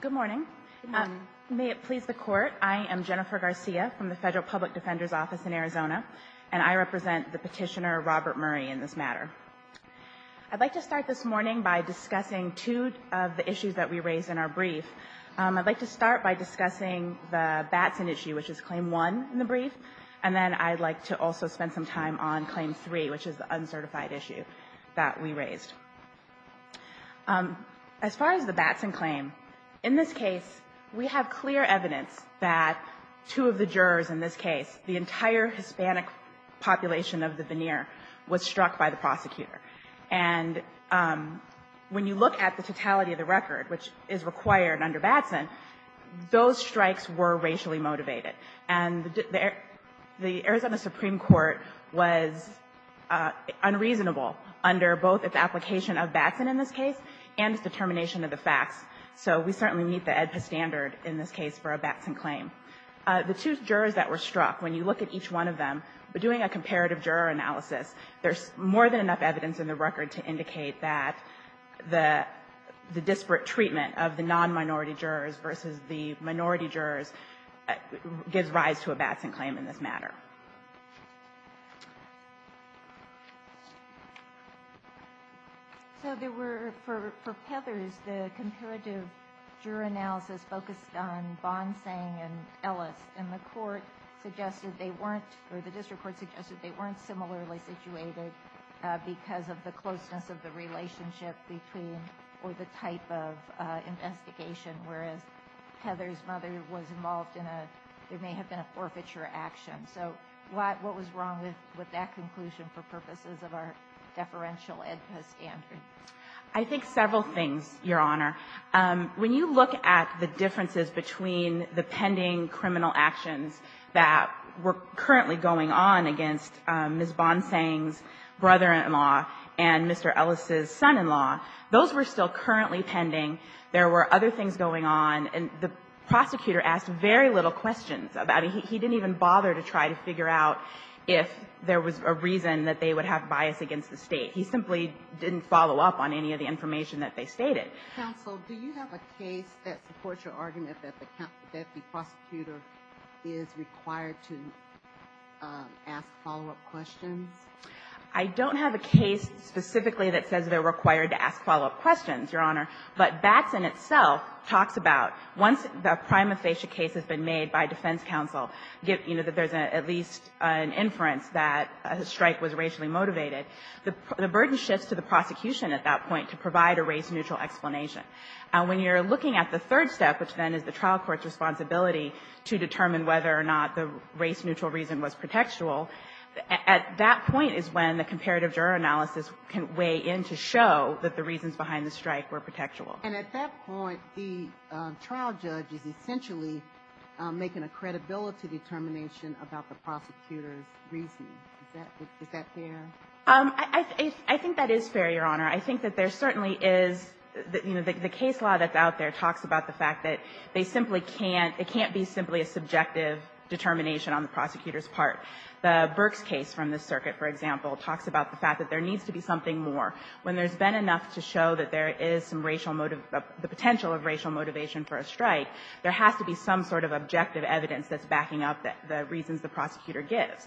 Good morning. May it please the Court, I am Jennifer Garcia from the Federal Public Defender's Office in Arizona, and I represent the petitioner Robert Murray in this matter. I'd like to start this morning by discussing two of the issues that we raised in our brief. I'd like to start by discussing the Batson issue, which is Claim 1 in the brief, and then I'd like to also spend some time on Claim 3, which is the uncertified issue that we raised. As far as the Batson claim, in this case, we have clear evidence that two of the jurors in this case, the entire Hispanic population of the veneer, was struck by the prosecutor. And when you look at the totality of the record, which is required under Batson, those strikes were racially motivated. And the Arizona Supreme Court was unreasonable under both its application of Batson in this case and its determination of the facts. So we certainly meet the AEDPA standard in this case for a Batson claim. The two jurors that were struck, when you look at each one of them, by doing a comparative juror analysis, there's more than enough evidence in the record to indicate that the disparate treatment of the nonminority jurors versus the minority jurors gives rise to a Batson claim in this matter. So there were, for Heather's, the comparative juror analysis focused on Bonsang and Ellis, and the court suggested they weren't, or the district court suggested they weren't similarly situated because of the closeness of the relationship between, or the type of investigation, whereas Heather's mother was involved in a, there may have been a forfeiture action. So what was wrong with that conclusion for purposes of our deferential AEDPA standard? I think several things, Your Honor. When you look at the differences between the pending criminal actions that were currently going on against Ms. Bonsang's brother-in-law and Mr. Ellis's son-in-law, those were still currently pending. There were other things going on. And the prosecutor asked very little questions about it. He didn't even bother to try to figure out if there was a reason that they would have bias against the State. He simply didn't follow up on any of the information that they stated. Counsel, do you have a case that supports your argument that the deputy prosecutor is required to ask follow-up questions? I don't have a case specifically that says they're required to ask follow-up questions, Your Honor. But BATS in itself talks about, once a prima facie case has been made by defense counsel, you know, that there's at least an inference that a strike was racially motivated, the burden shifts to the prosecution at that point to provide a race-neutral explanation. And when you're looking at the third step, which then is the trial court's responsibility to determine whether or not the race-neutral reason was pretextual, at that point is when the comparative juror analysis can weigh in to show that the reasons behind the strike were pretextual. And at that point, the trial judge is essentially making a credibility determination about the prosecutor's reasoning. Is that fair? I think that is fair, Your Honor. I think that there certainly is, you know, the case law that's out there talks about the fact that they simply can't – it can't be simply a subjective determination on the prosecutor's part. The Burks case from the circuit, for example, talks about the fact that there needs to be something more. When there's been enough to show that there is some racial – the potential of racial motivation for a strike, there has to be some sort of objective evidence that's backing up the reasons the prosecutor gives.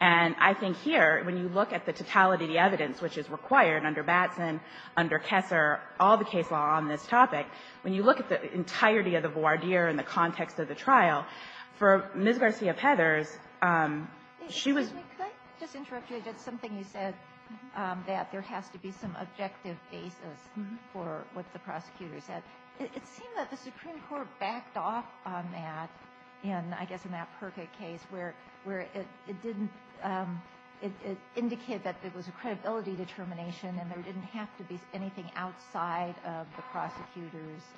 And I think here, when you look at the totality of the evidence, which is required under BATS and under Kessler, all the case law on this topic, when you look at the entirety of the voir dire in the context of the trial, for Ms. Garcia-Peters, she was – Excuse me. Could I just interrupt you? I just – something you said, that there has to be some objective basis for what the prosecutor said. It seemed that the Supreme Court backed off on that in, I guess, the Matt Perka case, where it didn't – it indicated that there was a credibility determination and there didn't have to be anything outside of the prosecutor's –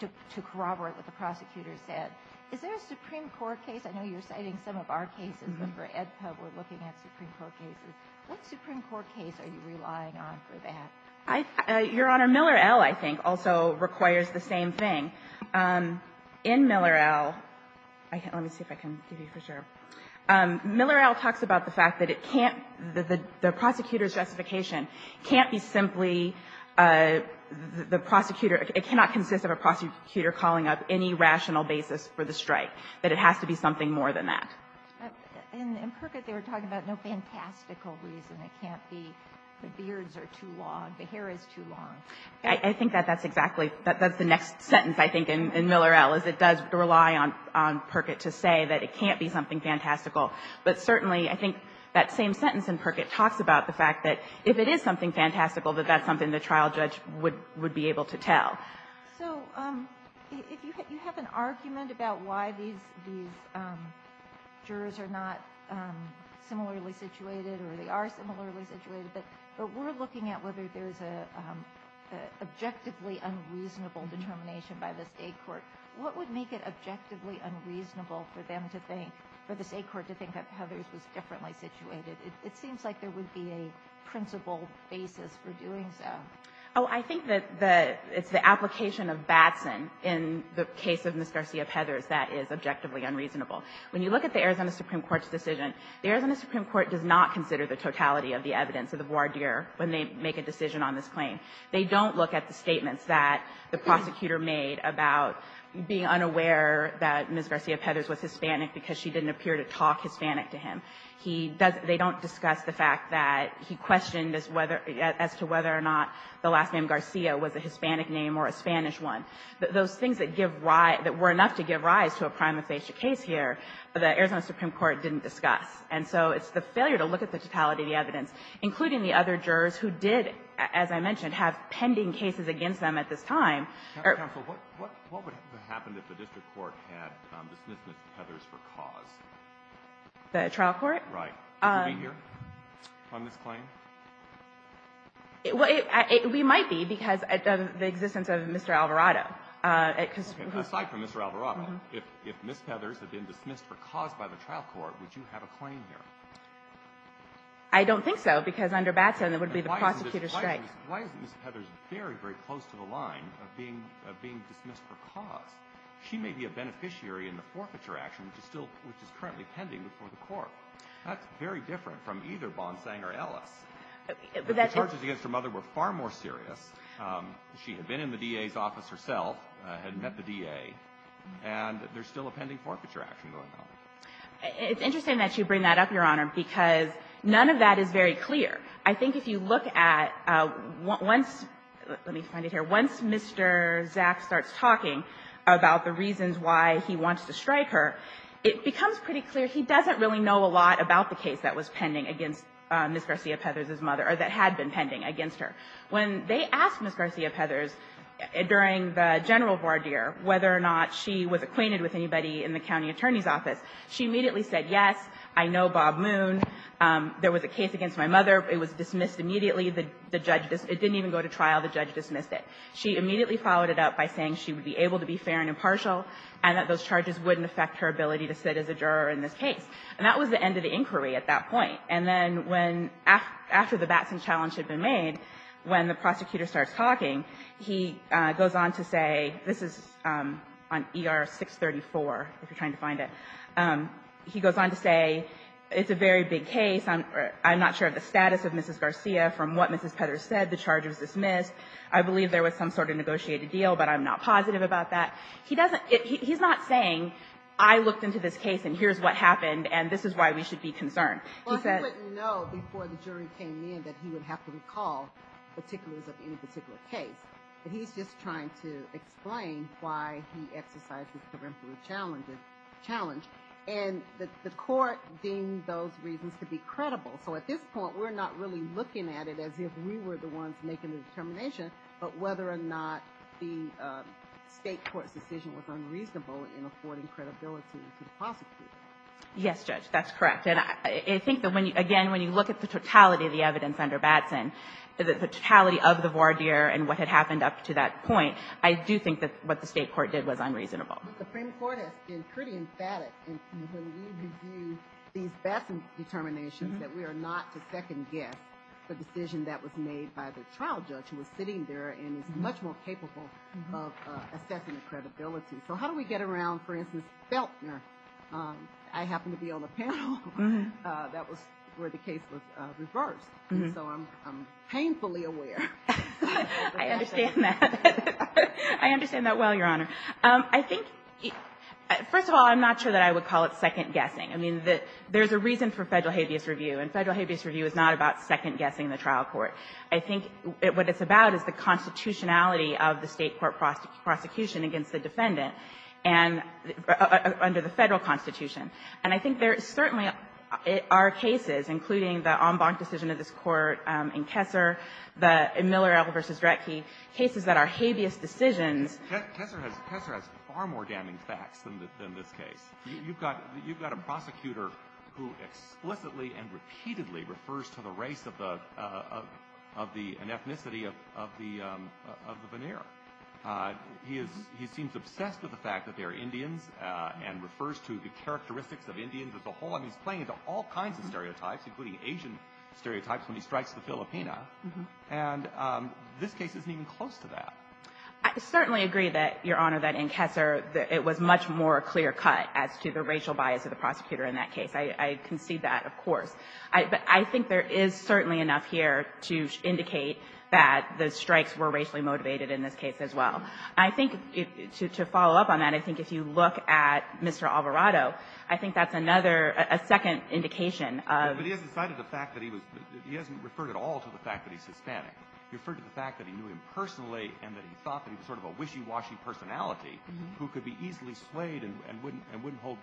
to corroborate what the prosecutor said. Is there a Supreme Court case – I know you're citing some of our cases, but for EdPub, we're looking at Supreme Court cases. What Supreme Court case are you relying on for that? Your Honor, Miller-El, I think, also requires the same thing. In Miller-El – let me see if I can give you for sure. Miller-El talks about the fact that it can't – the prosecutor's justification can't be simply the prosecutor – for the strike, that it has to be something more than that. In Perkett, they were talking about no fantastical reason. It can't be the beards are too long, the hair is too long. I think that that's exactly – that's the next sentence, I think, in Miller-El, is it does rely on Perkett to say that it can't be something fantastical. But certainly, I think that same sentence in Perkett talks about the fact that if it is something fantastical, that that's something the trial judge would be able to tell. So if you have an argument about why these jurors are not similarly situated, or they are similarly situated, but we're looking at whether there's an objectively unreasonable determination by the state court. What would make it objectively unreasonable for them to think – for the state court to think that Heathers was differently situated? It seems like there would be a principled basis for doing so. Oh, I think that the – it's the application of Batson in the case of Ms. Garcia-Pethers that is objectively unreasonable. When you look at the Arizona Supreme Court's decision, the Arizona Supreme Court does not consider the totality of the evidence of the voir dire when they make a decision on this claim. They don't look at the statements that the prosecutor made about being unaware that Ms. Garcia-Pethers was Hispanic because she didn't appear to talk Hispanic to him. He doesn't – they don't discuss the fact that he questioned as to whether or not the last name Garcia was a Hispanic name or a Spanish one. Those things that give rise – that were enough to give rise to a prima facie case here, the Arizona Supreme Court didn't discuss. And so it's the failure to look at the totality of the evidence, including the other jurors who did, as I mentioned, have pending cases against them at this time. Counsel, what would happen if the district court had dismissed Ms. Heathers for cause? The trial court? Right. Would you be here on this claim? We might be because of the existence of Mr. Alvarado. Aside from Mr. Alvarado, if Ms. Heathers had been dismissed for cause by the trial court, would you have a claim here? I don't think so because under Batson, it would be the prosecutor's strike. Why isn't Ms. Heathers very, very close to the line of being dismissed for cause? She may be a beneficiary in the forfeiture action, which is still – which is currently pending before the court. That's very different from either Bonsang or Ellis. The charges against her mother were far more serious. She had been in the DA's office herself, had met the DA, and there's still a pending forfeiture action going on. It's interesting that you bring that up, Your Honor, because none of that is very clear. I think if you look at once – let me find it here – once Mr. Zaks starts talking about the reasons why he wants to strike her, it becomes pretty clear he doesn't really know a lot about the case that was pending against Ms. Garcia-Heathers' mother, or that had been pending against her. When they asked Ms. Garcia-Heathers during the general voir dire whether or not she was acquainted with anybody in the county attorney's office, she immediately said, yes, I know Bob Moon. There was a case against my mother. It was dismissed immediately. The judge – it didn't even go to trial. The judge dismissed it. She immediately followed it up by saying she would be able to be fair and impartial and that those charges wouldn't affect her ability to sit as a juror in this case. And that was the end of the inquiry at that point. And then when – after the Batson challenge had been made, when the prosecutor starts talking, he goes on to say – this is on ER 634, if you're trying to find it – he goes on to say it's a very big case. I'm not sure of the status of Mrs. Garcia. From what Mrs. Heathers said, the charge was dismissed. I believe there was some sort of negotiated deal, but I'm not positive about that. He doesn't – he's not saying I looked into this case, and here's what happened, and this is why we should be concerned. He said – Well, he wouldn't know before the jury came in that he would have to recall particulars of any particular case, but he's just trying to explain why he exercised the terms of the challenge, and the court deemed those reasons to be credible. So at this point, we're not really looking at it as if we were the ones making the determination, but whether or not the State court's decision was unreasonable in affording credibility to the prosecutor. Yes, Judge, that's correct. And I think that when you – again, when you look at the totality of the evidence under Batson, the totality of the voir dire and what had happened up to that point, I do think that what the State court did was unreasonable. But the Supreme Court has been pretty emphatic in when we review these Batson determinations that we are not to second-guess the decision that was made by the trial judge who was sitting there and is much more capable of assessing the credibility. So how do we get around, for instance, Feltner? I happen to be on the panel. That was where the case was reversed, and so I'm painfully aware. I understand that. I understand that well, Your Honor. I think – first of all, I'm not sure that I would call it second-guessing. I mean, there's a reason for Federal habeas review, and Federal habeas review is not about second-guessing the trial court. I think what it's about is the constitutionality of the State court prosecution against the defendant and – under the Federal Constitution. And I think there certainly are cases, including the Ombach decision of this Court in Kessler, the Miller-Elver v. Dretke, cases that are habeas decisions. Kessler has far more damning facts than this case. You've got a prosecutor who explicitly and repeatedly refers to the race of the – an ethnicity of the Veneer. He is – he seems obsessed with the fact that they are Indians and refers to the characteristics of Indians as a whole. I mean, he's playing into all kinds of stereotypes, including Asian stereotypes when he strikes the Filipina. And this case isn't even close to that. I certainly agree that, Your Honor, that in Kessler it was much more clear-cut as to the racial bias of the prosecutor in that case. I concede that, of course. But I think there is certainly enough here to indicate that the strikes were racially motivated in this case as well. I think to follow up on that, I think if you look at Mr. Alvarado, I think that's another – a second indication of – But he hasn't cited the fact that he was – he hasn't referred at all to the fact that he's Hispanic. He referred to the fact that he knew him personally and that he thought that he was sort of a wishy-washy personality who could be easily swayed and wouldn't hold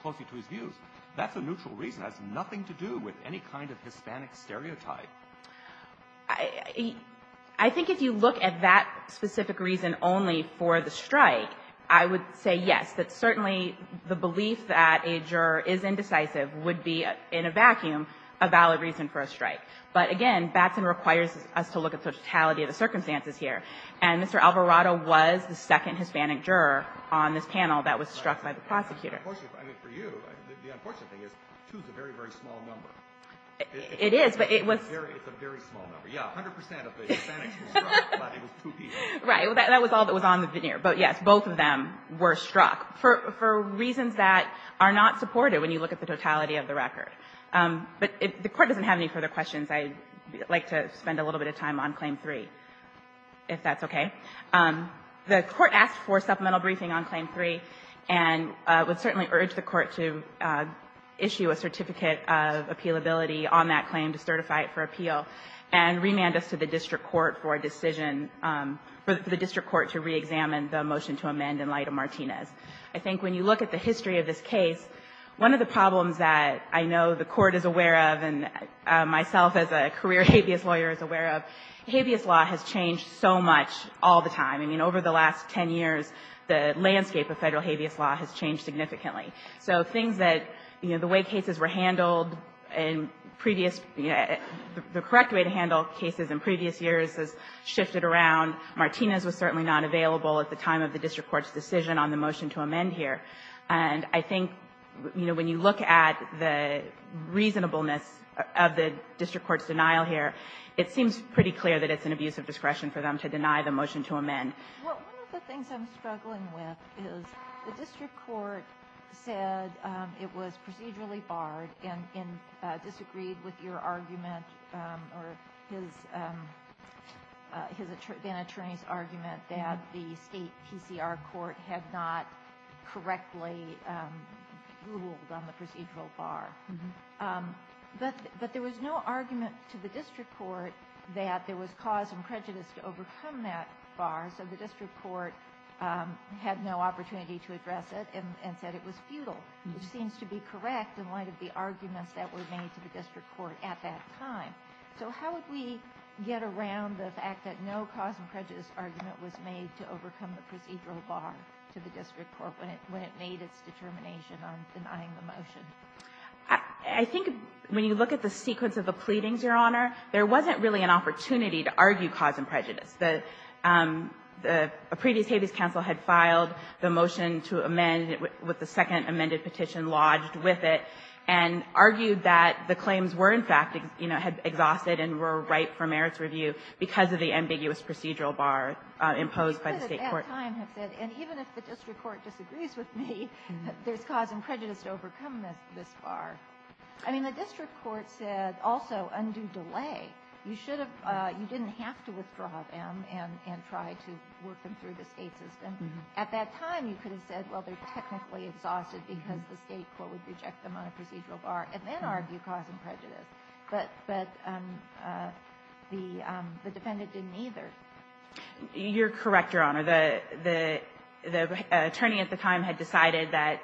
closely to his views. That's a neutral reason. It has nothing to do with any kind of Hispanic stereotype. I think if you look at that specific reason only for the strike, I would say yes, that certainly the belief that a juror is indecisive would be, in a vacuum, a valid reason for a strike. But again, Batson requires us to look at the totality of the circumstances here. And Mr. Alvarado was the second Hispanic juror on this panel that was struck by the prosecutor. I mean, for you, the unfortunate thing is two is a very, very small number. It is, but it was – It's a very small number. Yeah, 100 percent of the Hispanics were struck, but it was two people. Right. That was all that was on the veneer. But yes, both of them were struck for reasons that are not supported when you look at the totality of the record. But the Court doesn't have any further questions. I'd like to spend a little bit of time on Claim 3, if that's okay. The Court asked for supplemental briefing on Claim 3 and would certainly urge the Court to issue a certificate of appealability on that claim to certify it for appeal and remand us to the district court for a decision – for the district court to re-examine the motion to amend in light of Martinez. I think when you look at the history of this case, one of the problems that I know the Court is aware of and myself as a career habeas lawyer is aware of, habeas law has changed so much all the time. I mean, over the last 10 years, the landscape of federal habeas law has changed significantly. So things that, you know, the way cases were handled in previous – the correct way to handle cases in previous years has shifted around. Martinez was certainly not available at the time of the district court's decision on the motion to amend here. And I think, you know, when you look at the reasonableness of the district court's denial here, it seems pretty clear that it's an abuse of discretion for them to deny the motion to amend. Well, one of the things I'm struggling with is the district court said it was procedurally barred and disagreed with your argument or his – then-attorney's argument that the state PCR court had not correctly ruled on the procedural bar. But there was no argument to the district court that there was cause and prejudice to overcome that bar, so the district court had no opportunity to address it and said it was futile, which seems to be correct in light of the arguments that were made to the district court at that time. So how would we get around the fact that no cause and prejudice argument was made to overcome the procedural bar to the district court when it made its determination on denying the motion? I think when you look at the sequence of the pleadings, Your Honor, there wasn't really an opportunity to argue cause and prejudice. The previous Habeas Council had filed the motion to amend with the second amended petition lodged with it and argued that the claims were, in fact, you know, had exhausted and were ripe for merits review because of the ambiguous procedural bar imposed by the state court. And even if the district court disagrees with me, there's cause and prejudice to overcome this bar. I mean, the district court said also, undo delay. You should have, you didn't have to withdraw them and try to work them through the state system. At that time, you could have said, well, they're technically exhausted because the state court would reject them on a procedural bar and then argue cause and prejudice. But the defendant didn't either. You're correct, Your Honor. The attorney at the time had decided that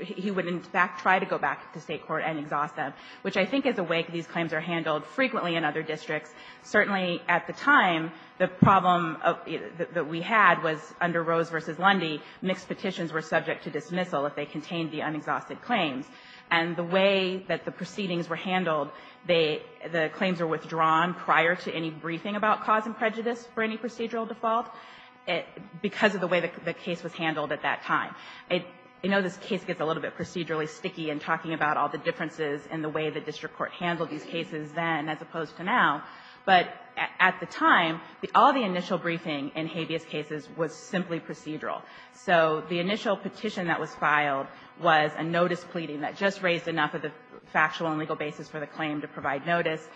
he wouldn't try to go back to state court and exhaust them, which I think is a way these claims are handled frequently in other districts. Certainly at the time, the problem that we had was under Rose v. Lundy, mixed petitions were subject to dismissal if they contained the unexhausted claims. And the way that the proceedings were handled, the claims were withdrawn prior to any briefing about cause and prejudice for any procedural default because of the way the case was handled at that time. I know this case gets a little bit procedurally sticky in talking about all the differences in the way the district court handled these cases then as opposed to now. But at the time, all the initial briefing in habeas cases was simply procedural. So the initial petition that was filed was a notice pleading that just raised enough of the factual and legal basis for the claim to provide notice.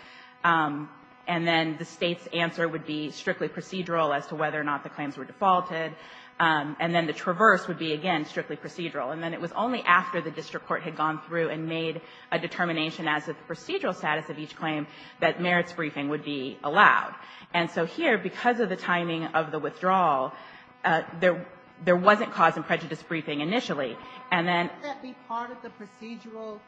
And then the state's answer would be strictly procedural as to whether or not the claims were defaulted. And then the traverse would be, again, strictly procedural. And then it was only after the district court had gone through and made a determination as to the procedural status of each claim that merits briefing would be allowed. And so here, because of the timing of the withdrawal, there wasn't cause and prejudice briefing initially. And then the part of the procedural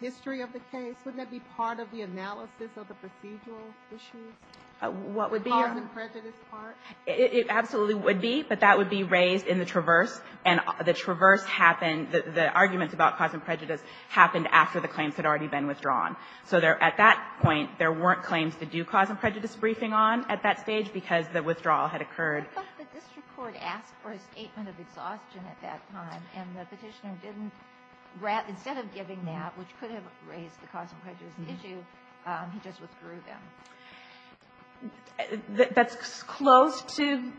history of the case, wouldn't that be part of the analysis of the procedural issues? What would be a cause and prejudice part? It absolutely would be. But that would be raised in the traverse. And the traverse happened, the arguments about cause and prejudice happened after the claims had already been withdrawn. So there, at that point, there weren't claims to do cause and prejudice briefing on at that stage because the withdrawal had occurred. But the district court asked for a statement of exhaustion at that time. And the Petitioner didn't grant, instead of giving that, which could have raised the cause and prejudice issue, he just withdrew them. That's close to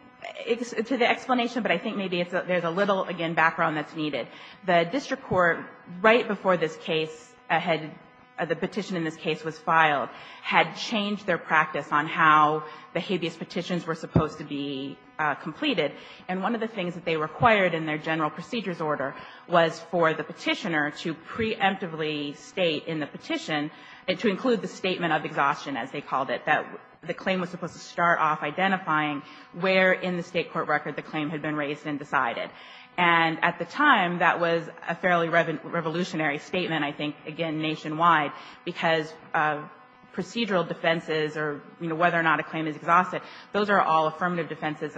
the explanation, but I think maybe there's a little, again, background that's needed. The district court, right before this case, the petition in this case was filed, had changed their practice on how the habeas petitions were supposed to be completed. And one of the things that they required in their general procedures order was for the Petitioner to preemptively state in the petition, to include the statement of exhaustion, as they called it, that the claim was supposed to start off identifying where in the state court record the claim had been raised and decided. And at the time, that was a fairly revolutionary statement, I think, again, nationwide. Because procedural defenses or, you know, whether or not a claim is exhausted, those are all affirmative defenses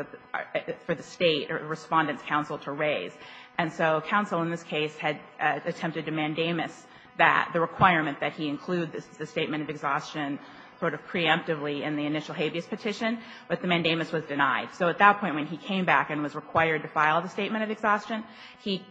for the state or the Respondent's counsel to raise. And so counsel in this case had attempted to mandamus that the requirement that he include the statement of exhaustion sort of preemptively in the initial habeas petition, but the mandamus was denied. So at that point, when he came back and was required to file the statement of exhaustion, he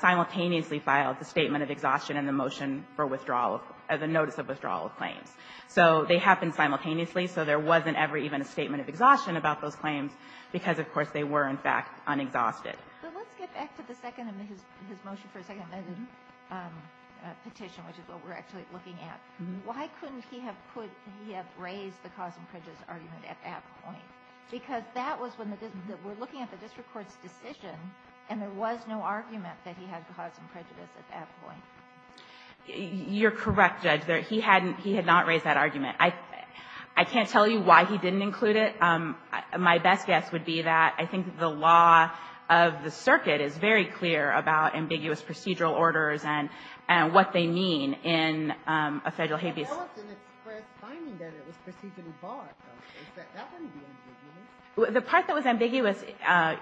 simultaneously filed the statement of exhaustion and the motion for withdrawal, the notice of withdrawal of claims. So they happened simultaneously, so there wasn't ever even a statement of exhaustion about those claims because, of course, they were, in fact, unexhausted. But let's get back to the second, his motion for a second petition, which is what we're actually looking at. Why couldn't he have put, he have raised the cause and prejudice argument at that point? Because that was when the, we're looking at the district court's decision, and there was no argument that he had cause and prejudice at that point. You're correct, Judge. He hadn't, he had not raised that argument. I can't tell you why he didn't include it. My best guess would be that I think the law of the circuit is very clear about ambiguous procedural orders and what they mean in a Federal habeas. The court didn't express finding that it was procedurally barred. That wouldn't be ambiguous. The part that was ambiguous,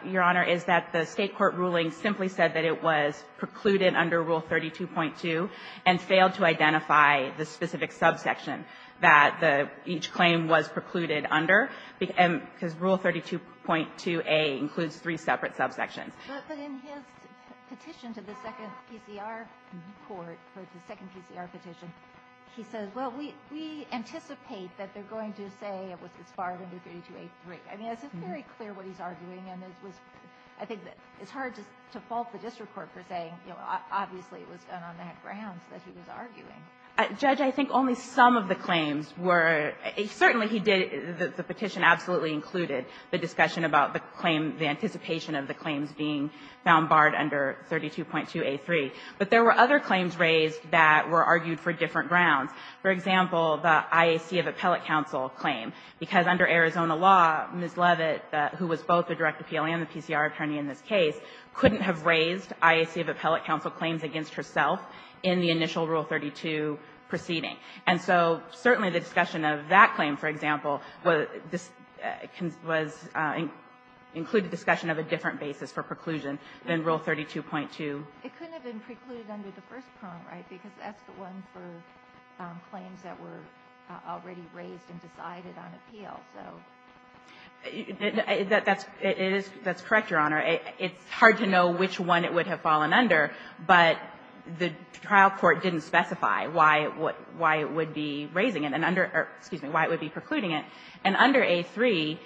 Your Honor, is that the State court ruling simply said that it was precluded under Rule 32.2 and failed to identify the specific subsection that each claim was precluded under, because Rule 32.2a includes three separate subsections. But in his petition to the second PCR court, the second PCR petition, he says, well, we anticipate that they're going to say it was as far as under 32a3. I mean, it's very clear what he's arguing, and it was, I think it's hard to fault the district court for saying, you know, obviously it was done on that ground that he was arguing. Judge, I think only some of the claims were, certainly he did, the petition absolutely included the discussion about the claim, the anticipation of the claims being found barred under 32.2a3. But there were other claims raised that were argued for different grounds. For example, the IAC of appellate counsel claim. Because under Arizona law, Ms. Levitt, who was both the direct appealee and the PCR attorney in this case, couldn't have raised IAC of appellate counsel claims against herself in the initial Rule 32 proceeding. And so certainly the discussion of that claim, for example, was included discussion of a different basis for preclusion than Rule 32.2. It couldn't have been precluded under the first prong, right? Because that's the one for claims that were already raised and decided on appeal. That's correct, Your Honor. It's hard to know which one it would have fallen under, but the trial court didn't specify why it would be raising it and under, excuse me, why it would be precluding it. And under a3,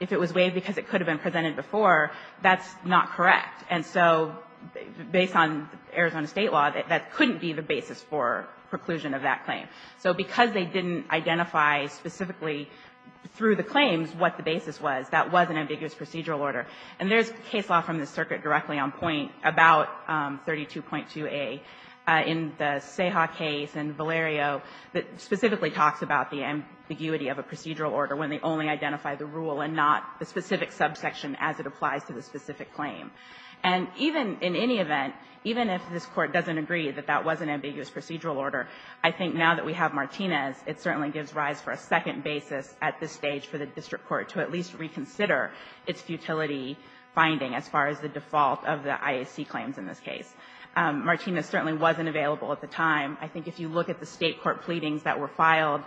if it was waived because it could have been presented before, that's not correct. And so based on Arizona State law, that couldn't be the basis for preclusion of that claim. So because they didn't identify specifically through the claims what the basis was, that was an ambiguous procedural order. And there's case law from the circuit directly on point about 32.2a in the Ceja case and Valerio that specifically talks about the ambiguity of a procedural order when they only identify the rule and not the specific subsection as it applies to the specific claim. And even in any event, even if this Court doesn't agree that that was an ambiguous procedural order, I think now that we have Martinez, it certainly gives rise for a second basis at this stage for the district court to at least reconsider its futility finding as far as the default of the IAC claims in this case. Martinez certainly wasn't available at the time. I think if you look at the State court pleadings that were filed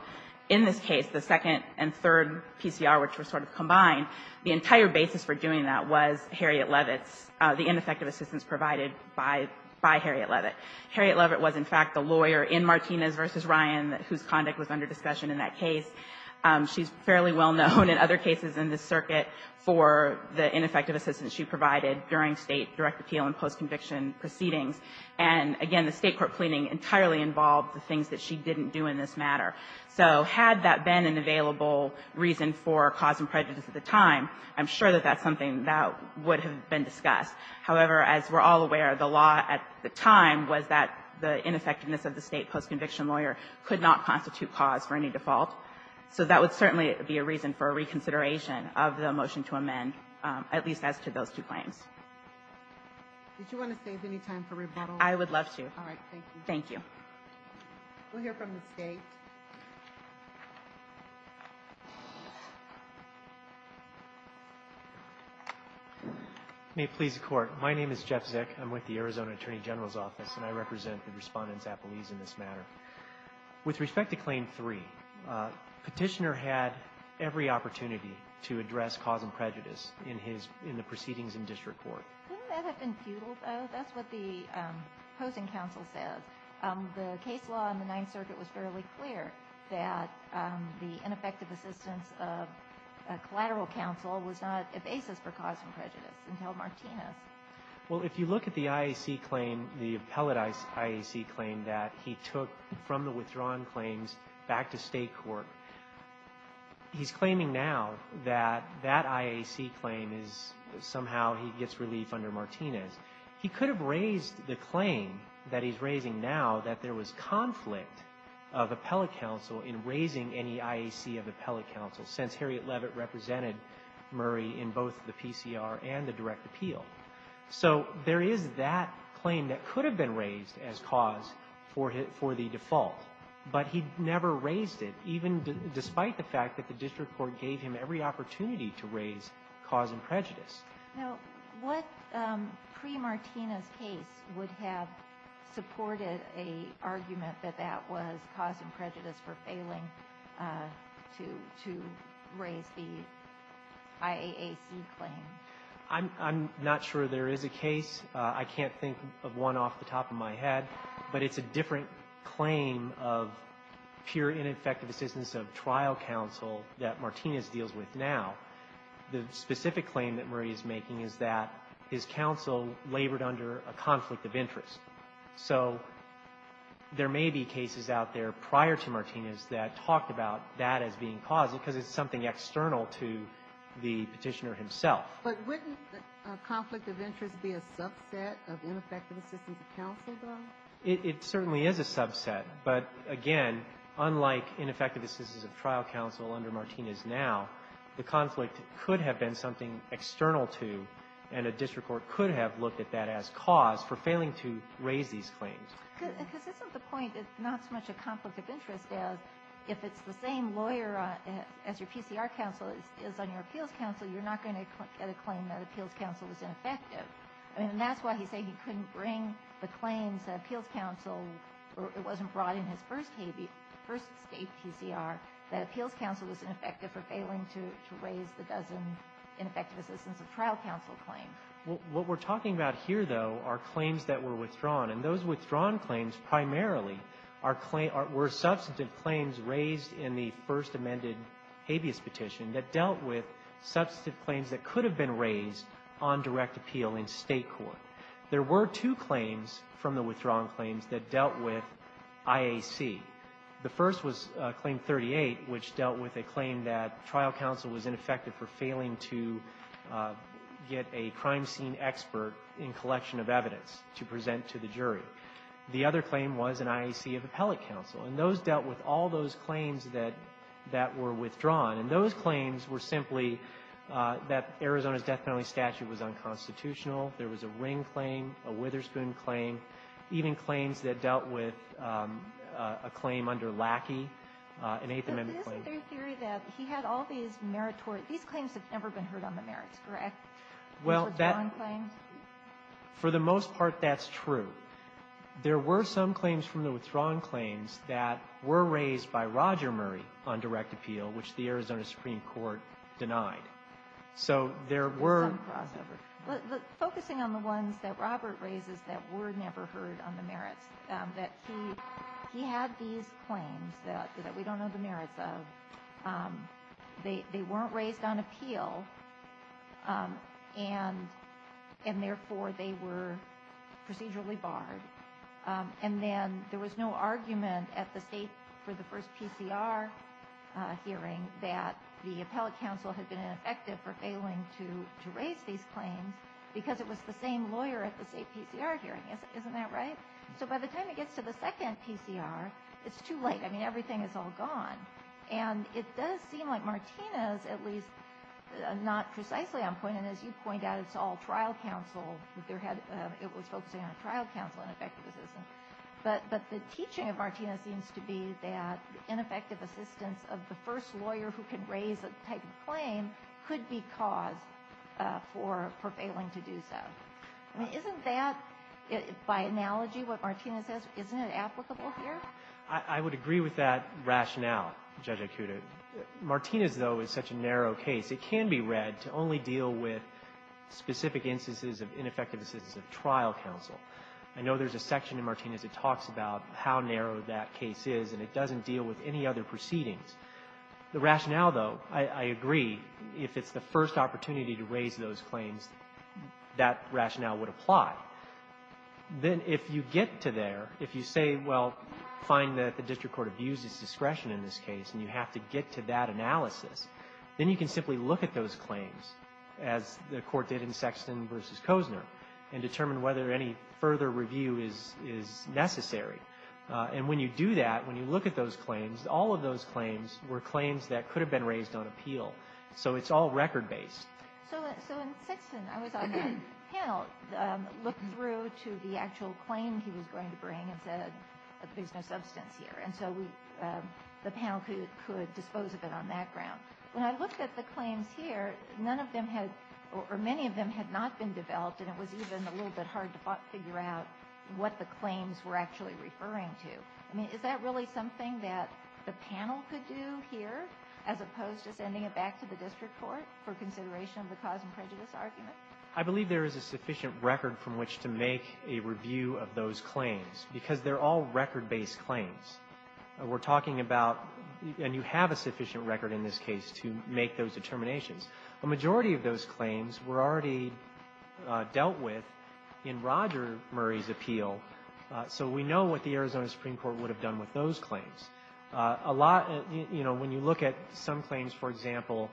in this case, the second and third PCR, which were sort of combined, the entire basis for doing that was Harriet Leavitt's, the ineffective assistance provided by Harriet Leavitt. Harriet Leavitt was, in fact, the lawyer in Martinez v. Ryan whose conduct was under discussion in that case. She's fairly well known in other cases in this circuit for the ineffective assistance she provided during State direct appeal and post-conviction proceedings. And, again, the State court pleading entirely involved the things that she didn't do in this matter. So had that been an available reason for cause and prejudice at the time, I'm sure that that's something that would have been discussed. However, as we're all aware, the law at the time was that the ineffectiveness of the State post-conviction lawyer could not constitute cause for any default. So that would certainly be a reason for a reconsideration of the motion to amend, at least as to those two claims. Did you want to save any time for rebuttal? I would love to. All right. Thank you. Thank you. We'll hear from the State. May it please the Court. My name is Jeff Zick. I'm with the Arizona Attorney General's Office, and I represent the Respondents Appellees in this matter. With respect to Claim 3, Petitioner had every opportunity to address cause and prejudice in the proceedings in District Court. Wouldn't that have been futile, though? That's what the opposing counsel says. The case law in the Ninth Circuit was fairly clear that the ineffective assistance of a collateral counsel was not a basis for cause and prejudice until Martinez. Well, if you look at the IAC claim, the appellate IAC claim that he took from the withdrawn claims back to State court, he's claiming now that that IAC claim is somehow he gets relief under Martinez. He could have raised the claim that he's raising now that there was conflict of appellate counsel in raising any IAC of appellate counsel, since Harriet Leavitt represented Murray in both the PCR and the direct appeal. So there is that claim that could have been raised as cause for the default, but he never raised it, even despite the fact that the District Court gave him every opportunity to raise cause and prejudice. Now, what pre-Martinez case would have supported an argument that that was cause and prejudice for failing to raise the IAAC claim? I'm not sure there is a case. I can't think of one off the top of my head, but it's a different claim of pure ineffective assistance of trial counsel that Martinez deals with now. The specific claim that Murray is making is that his counsel labored under a conflict of interest. So there may be cases out there prior to Martinez that talked about that as being cause, because it's something external to the petitioner himself. But wouldn't a conflict of interest be a subset of ineffective assistance of counsel, though? It certainly is a subset, but again, unlike ineffective assistance of trial counsel under Martinez now, the conflict could have been something external to, and a District Court could have looked at that as cause for failing to raise these claims. Because isn't the point not so much a conflict of interest as if it's the same lawyer as your PCR counsel is on your appeals counsel, you're not going to get a claim that appeals counsel was ineffective. And that's why he's saying he couldn't bring the claims that appeals counsel wasn't brought in his first state PCR, that appeals counsel was ineffective for a trial counsel claim. What we're talking about here, though, are claims that were withdrawn. And those withdrawn claims primarily were substantive claims raised in the first amended habeas petition that dealt with substantive claims that could have been raised on direct appeal in state court. There were two claims from the withdrawn claims that dealt with IAC. The first was Claim 38, which dealt with a claim that trial counsel was ineffective for failing to get a crime scene expert in collection of evidence to present to the jury. The other claim was an IAC appellate counsel. And those dealt with all those claims that were withdrawn. And those claims were simply that Arizona's death penalty statute was unconstitutional. There was a Ring claim, a Witherspoon claim, even claims that dealt with a claim under Lackey, an Eighth Amendment claim. But isn't there a theory that he had all these meritorious, these claims have never been heard on the merits, correct? Well, for the most part, that's true. There were some claims from the withdrawn claims that were raised by Roger Murray on direct appeal, which the Arizona Supreme Court denied. So there were. Some crossover. But focusing on the ones that Robert raises that were never heard on the merits, that he had these claims that we don't know the merits of, they weren't raised on appeal. And therefore, they were procedurally barred. And then there was no argument at the state for the first PCR hearing that the appellate counsel had been ineffective for failing to raise these claims because it was the same lawyer at the state PCR hearing. Isn't that right? So by the time it gets to the second PCR, it's too late. I mean, everything is all gone. And it does seem like Martinez, at least, not precisely on point. And as you point out, it's all trial counsel. It was focusing on trial counsel and effective assistance. But the teaching of Martinez seems to be that ineffective assistance of the first lawyer who can raise a type of claim could be cause for failing to do so. I mean, isn't that, by analogy, what Martinez says, isn't it applicable here? I would agree with that rationale, Judge Acuda. Martinez, though, is such a narrow case. It can be read to only deal with specific instances of ineffective assistance of trial counsel. I know there's a section in Martinez that talks about how narrow that case is, and it doesn't deal with any other proceedings. The rationale, though, I agree, if it's the first opportunity to raise those claims, that rationale would apply. Then if you get to there, if you say, well, find that the district court abuses discretion in this case, and you have to get to that analysis, then you can simply look at those claims, as the court did in Sexton v. Kozner, and determine whether any further review is necessary. And when you do that, when you look at those claims, all of those claims were claims that could have been raised on appeal. So it's all record-based. So in Sexton, I was on the panel. Looked through to the actual claim he was going to bring and said that there's no substance here. And so the panel could dispose of it on that ground. When I looked at the claims here, none of them had, or many of them had not been developed, and it was even a little bit hard to figure out what the claims were actually referring to. I mean, is that really something that the panel could do here, as opposed to sending it back to the district court for consideration of the cause and prejudice argument? I believe there is a sufficient record from which to make a review of those claims, because they're all record-based claims. We're talking about, and you have a sufficient record in this case to make those determinations. A majority of those claims were already dealt with in Roger Murray's appeal, so we know what the Arizona Supreme Court would have done with those claims. A lot, you know, when you look at some claims, for example,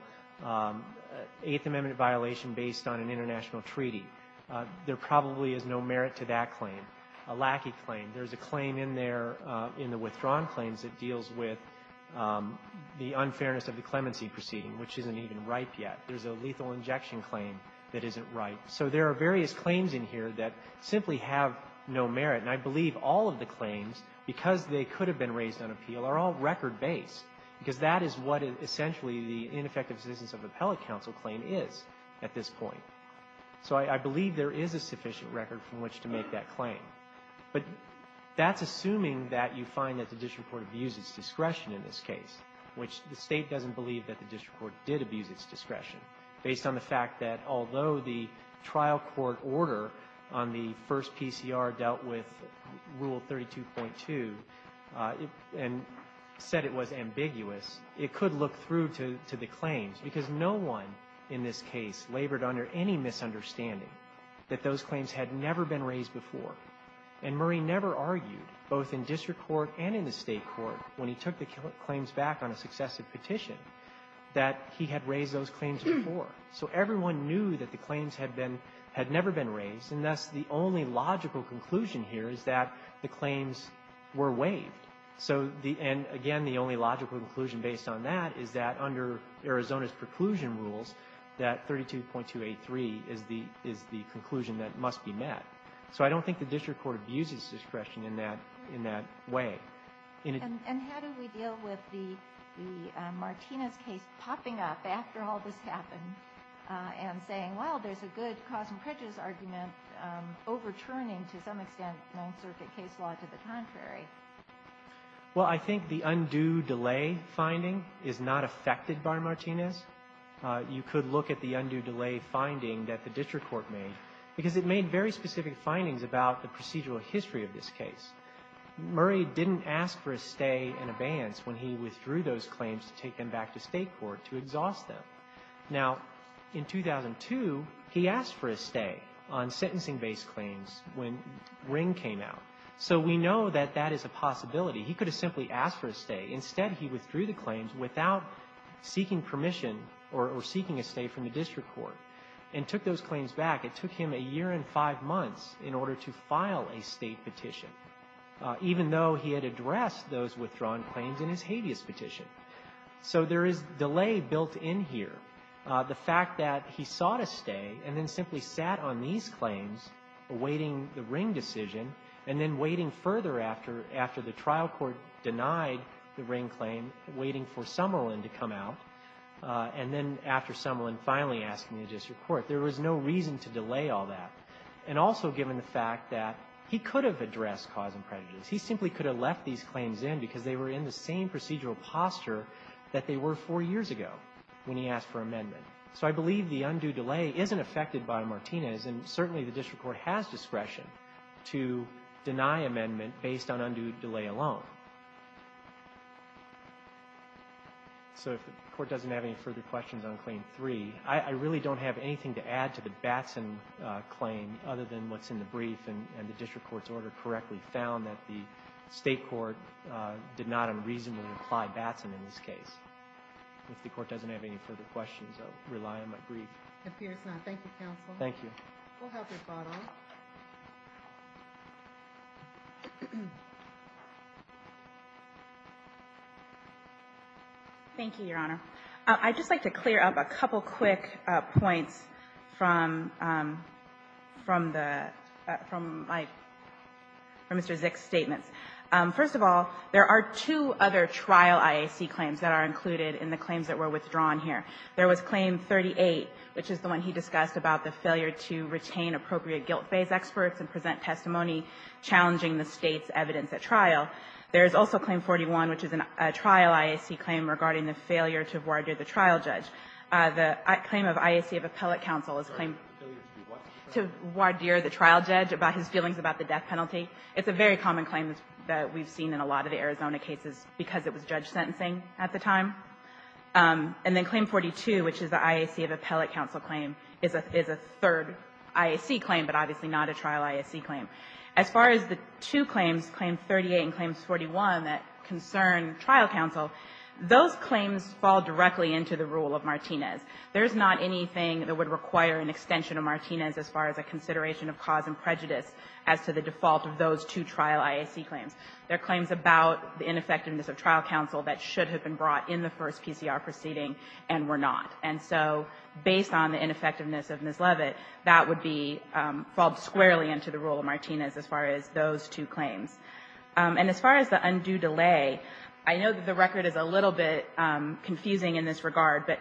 Eighth Amendment violation based on an international treaty, there probably is no merit to that claim. A lackey claim, there's a claim in there, in the withdrawn claims, that deals with the unfairness of the clemency proceeding, which isn't even ripe yet. There's a lethal injection claim that isn't ripe. So there are various claims in here that simply have no merit, and I believe all of the claims, because they could have been raised on appeal, are all record-based, because that is what essentially the ineffective existence of appellate counsel claim is at this point. So I believe there is a sufficient record from which to make that claim. But that's assuming that you find that the district court abused its discretion in this case, which the State doesn't believe that the district court did abuse its discretion, based on the fact that although the trial court order on the first PCR dealt with Rule 32.2, and said it was ambiguous, it could look through to the claims, because no one in this case labored under any misunderstanding that those claims had never been raised before. And Murray never argued, both in district court and in the state court, when he took the claims back on a successive petition, that he had raised those claims before. So everyone knew that the claims had never been raised, and thus the only logical conclusion here is that the claims were waived. And again, the only logical conclusion based on that is that under Arizona's preclusion rules, that 32.283 is the conclusion that must be met. So I don't think the district court abused its discretion in that way. And how do we deal with the Martinez case popping up after all this happened, and saying, well, there's a good cause and prejudice argument overturning, to some extent, non-circuit case law to the contrary? Well, I think the undue delay finding is not affected by Martinez. You could look at the undue delay finding that the district court made, because it made very specific findings about the procedural history of this case. Murray didn't ask for a stay in advance when he withdrew those claims to take them back to state court to exhaust them. Now, in 2002, he asked for a stay on sentencing-based claims when Ring came out. So we know that that is a possibility. He could have simply asked for a stay. Instead, he withdrew the claims without seeking permission or seeking a stay from the district court and took those claims back. It took him a year and five months in order to file a state petition, even though he had addressed those withdrawn claims in his habeas petition. So there is delay built in here. The fact that he sought a stay and then simply sat on these claims awaiting the Ring decision and then waiting further after the trial court denied the Ring claim, waiting for Summerlin to come out, and then after Summerlin finally asking the district court, there was no reason to delay all that. And also given the fact that he could have addressed cause and prejudice. He simply could have left these claims in because they were in the same procedural posture that they were four years ago when he asked for amendment. So I believe the undue delay isn't affected by Martinez and certainly the district court has discretion to deny amendment based on undue delay alone. So if the court doesn't have any further questions on Claim 3, I really don't have anything to add to the Batson claim other than what's in the brief and the district court's order correctly found that the state court did not unreasonably apply Batson in this case. If the court doesn't have any further questions, I'll rely on my brief. Thank you, counsel. Thank you. We'll have your thought on it. Thank you, Your Honor. I'd just like to clear up a couple quick points from Mr. Zick's statements. First of all, there are two other trial IAC claims that are included in the claims that were withdrawn here. There was Claim 38, which is the one he discussed about the failure to retain appropriate guilt-based experts and present testimony challenging the State's evidence at trial. There is also Claim 41, which is a trial IAC claim regarding the failure to voir dire the trial judge. The claim of IAC of Appellate Counsel is claimed to voir dire the trial judge about his feelings about the death penalty. It's a very common claim that we've seen in a lot of the Arizona cases because it was judge sentencing at the time. And then Claim 42, which is the IAC of Appellate Counsel claim, is a third IAC claim, but obviously not a trial IAC claim. As far as the two claims, Claim 38 and Claim 41, that concern trial counsel, those claims fall directly into the rule of Martinez. There's not anything that would require an extension of Martinez as far as a consideration of cause and prejudice as to the default of those two trial IAC claims. They're claims about the ineffectiveness of trial counsel that should have been brought in the first PCR proceeding and were not. And so based on the ineffectiveness of Ms. Leavitt, that would fall squarely into the rule of Martinez as far as those two claims. And as far as the undue delay, I know that the record is a little bit confusing in this regard, but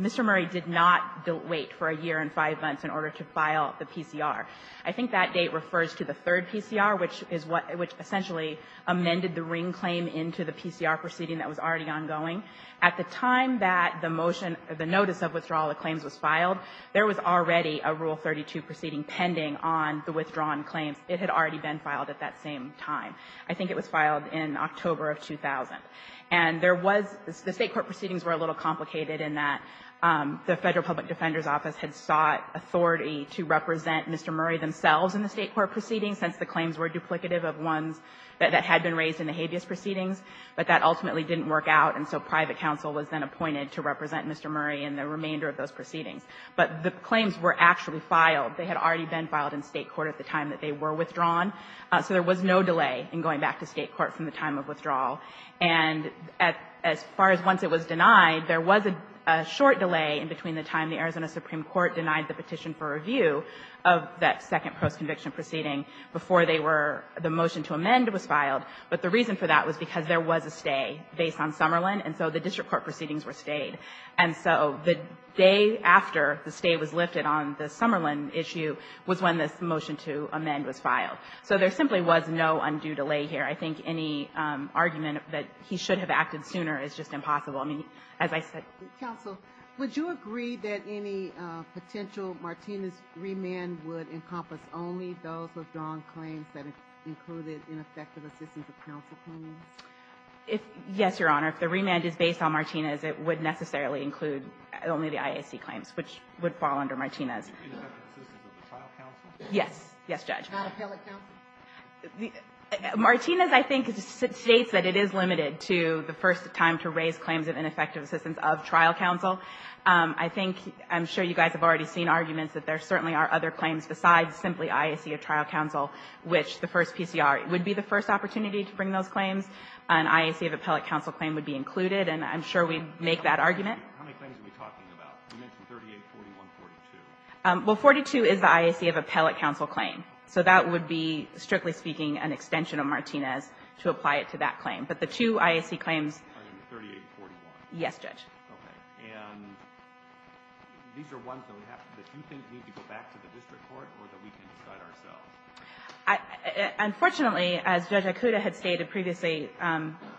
Mr. Murray did not wait for a year and five months in order to file the PCR. I think that date refers to the third PCR, which essentially amended the ring claim into the PCR proceeding that was already ongoing. At the time that the motion, the notice of withdrawal of claims was filed, there was already a Rule 32 proceeding pending on the withdrawn claims. It had already been filed at that same time. I think it was filed in October of 2000. And there was, the State court proceedings were a little complicated in that the Federal Public Defender's Office had sought authority to represent Mr. Murray themselves in the State court proceedings since the claims were duplicative of ones that had been raised in the habeas proceedings, but that ultimately didn't work out, and so private counsel was then appointed to represent Mr. Murray in the remainder of those proceedings. But the claims were actually filed. They had already been filed in State court at the time that they were withdrawn, so there was no delay in going back to State court from the time of withdrawal. And as far as once it was denied, there was a short delay in between the time the Arizona Supreme Court denied the petition for review of that second post-conviction proceeding before they were, the motion to amend was filed. But the reason for that was because there was a stay based on Summerlin, and so the district court proceedings were stayed. And so the day after the stay was lifted on the Summerlin issue was when this motion to amend was filed. So there simply was no undue delay here. I think any argument that he should have acted sooner is just impossible. I mean, as I said... Counsel, would you agree that any potential Martinez remand would encompass only those withdrawn claims that included ineffective assistance of trial counsel claims? Yes, Your Honor. If the remand is based on Martinez, it would necessarily include only the IAC claims, which would fall under Martinez. Ineffective assistance of trial counsel? Yes. Yes, Judge. Not appellate counsel? Martinez, I think, states that it is limited to the first time to raise claims of ineffective assistance of trial counsel. I think, I'm sure you guys have already seen arguments that there certainly are other claims besides simply IAC of trial counsel, which the first PCR would be the first opportunity to bring those claims. An IAC of appellate counsel claim would be included, and I'm sure we'd make that argument. How many claims are we talking about? You mentioned 38, 41, 42. Well, 42 is the IAC of appellate counsel claim. So that would be, strictly speaking, an extension of Martinez to apply it to that claim. But the two IAC claims... I mean, 38, 41. Yes, Judge. Okay. And these are ones, though, that you think need to go back to the district court or that we can decide ourselves? Unfortunately, as Judge Ikuda had stated previously,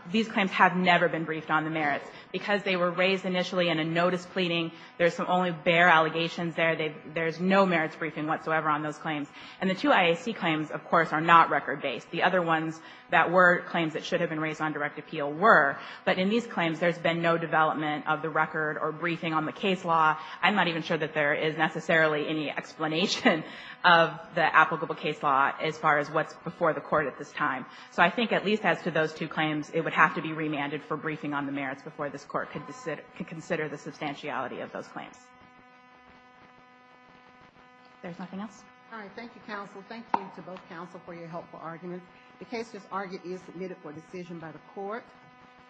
these claims have never been briefed on the merits. Because they were raised initially in a notice pleading, there's some only bare allegations there. There's no merits briefing whatsoever on those claims. And the two IAC claims, of course, are not record-based. The other ones that were claims that should have been raised on direct appeal were. But in these claims, there's been no development of the record or briefing on the case law. I'm not even sure that there is necessarily any explanation of the applicable case law as far as what's before the court at this time. So I think at least as to those two claims, it would have to be remanded for briefing on the merits before this court could consider the substantiality of those claims. If there's nothing else? Thank you, counsel. Thank you to both counsel for your helpful argument. The case, as argued, is submitted for decision by the court.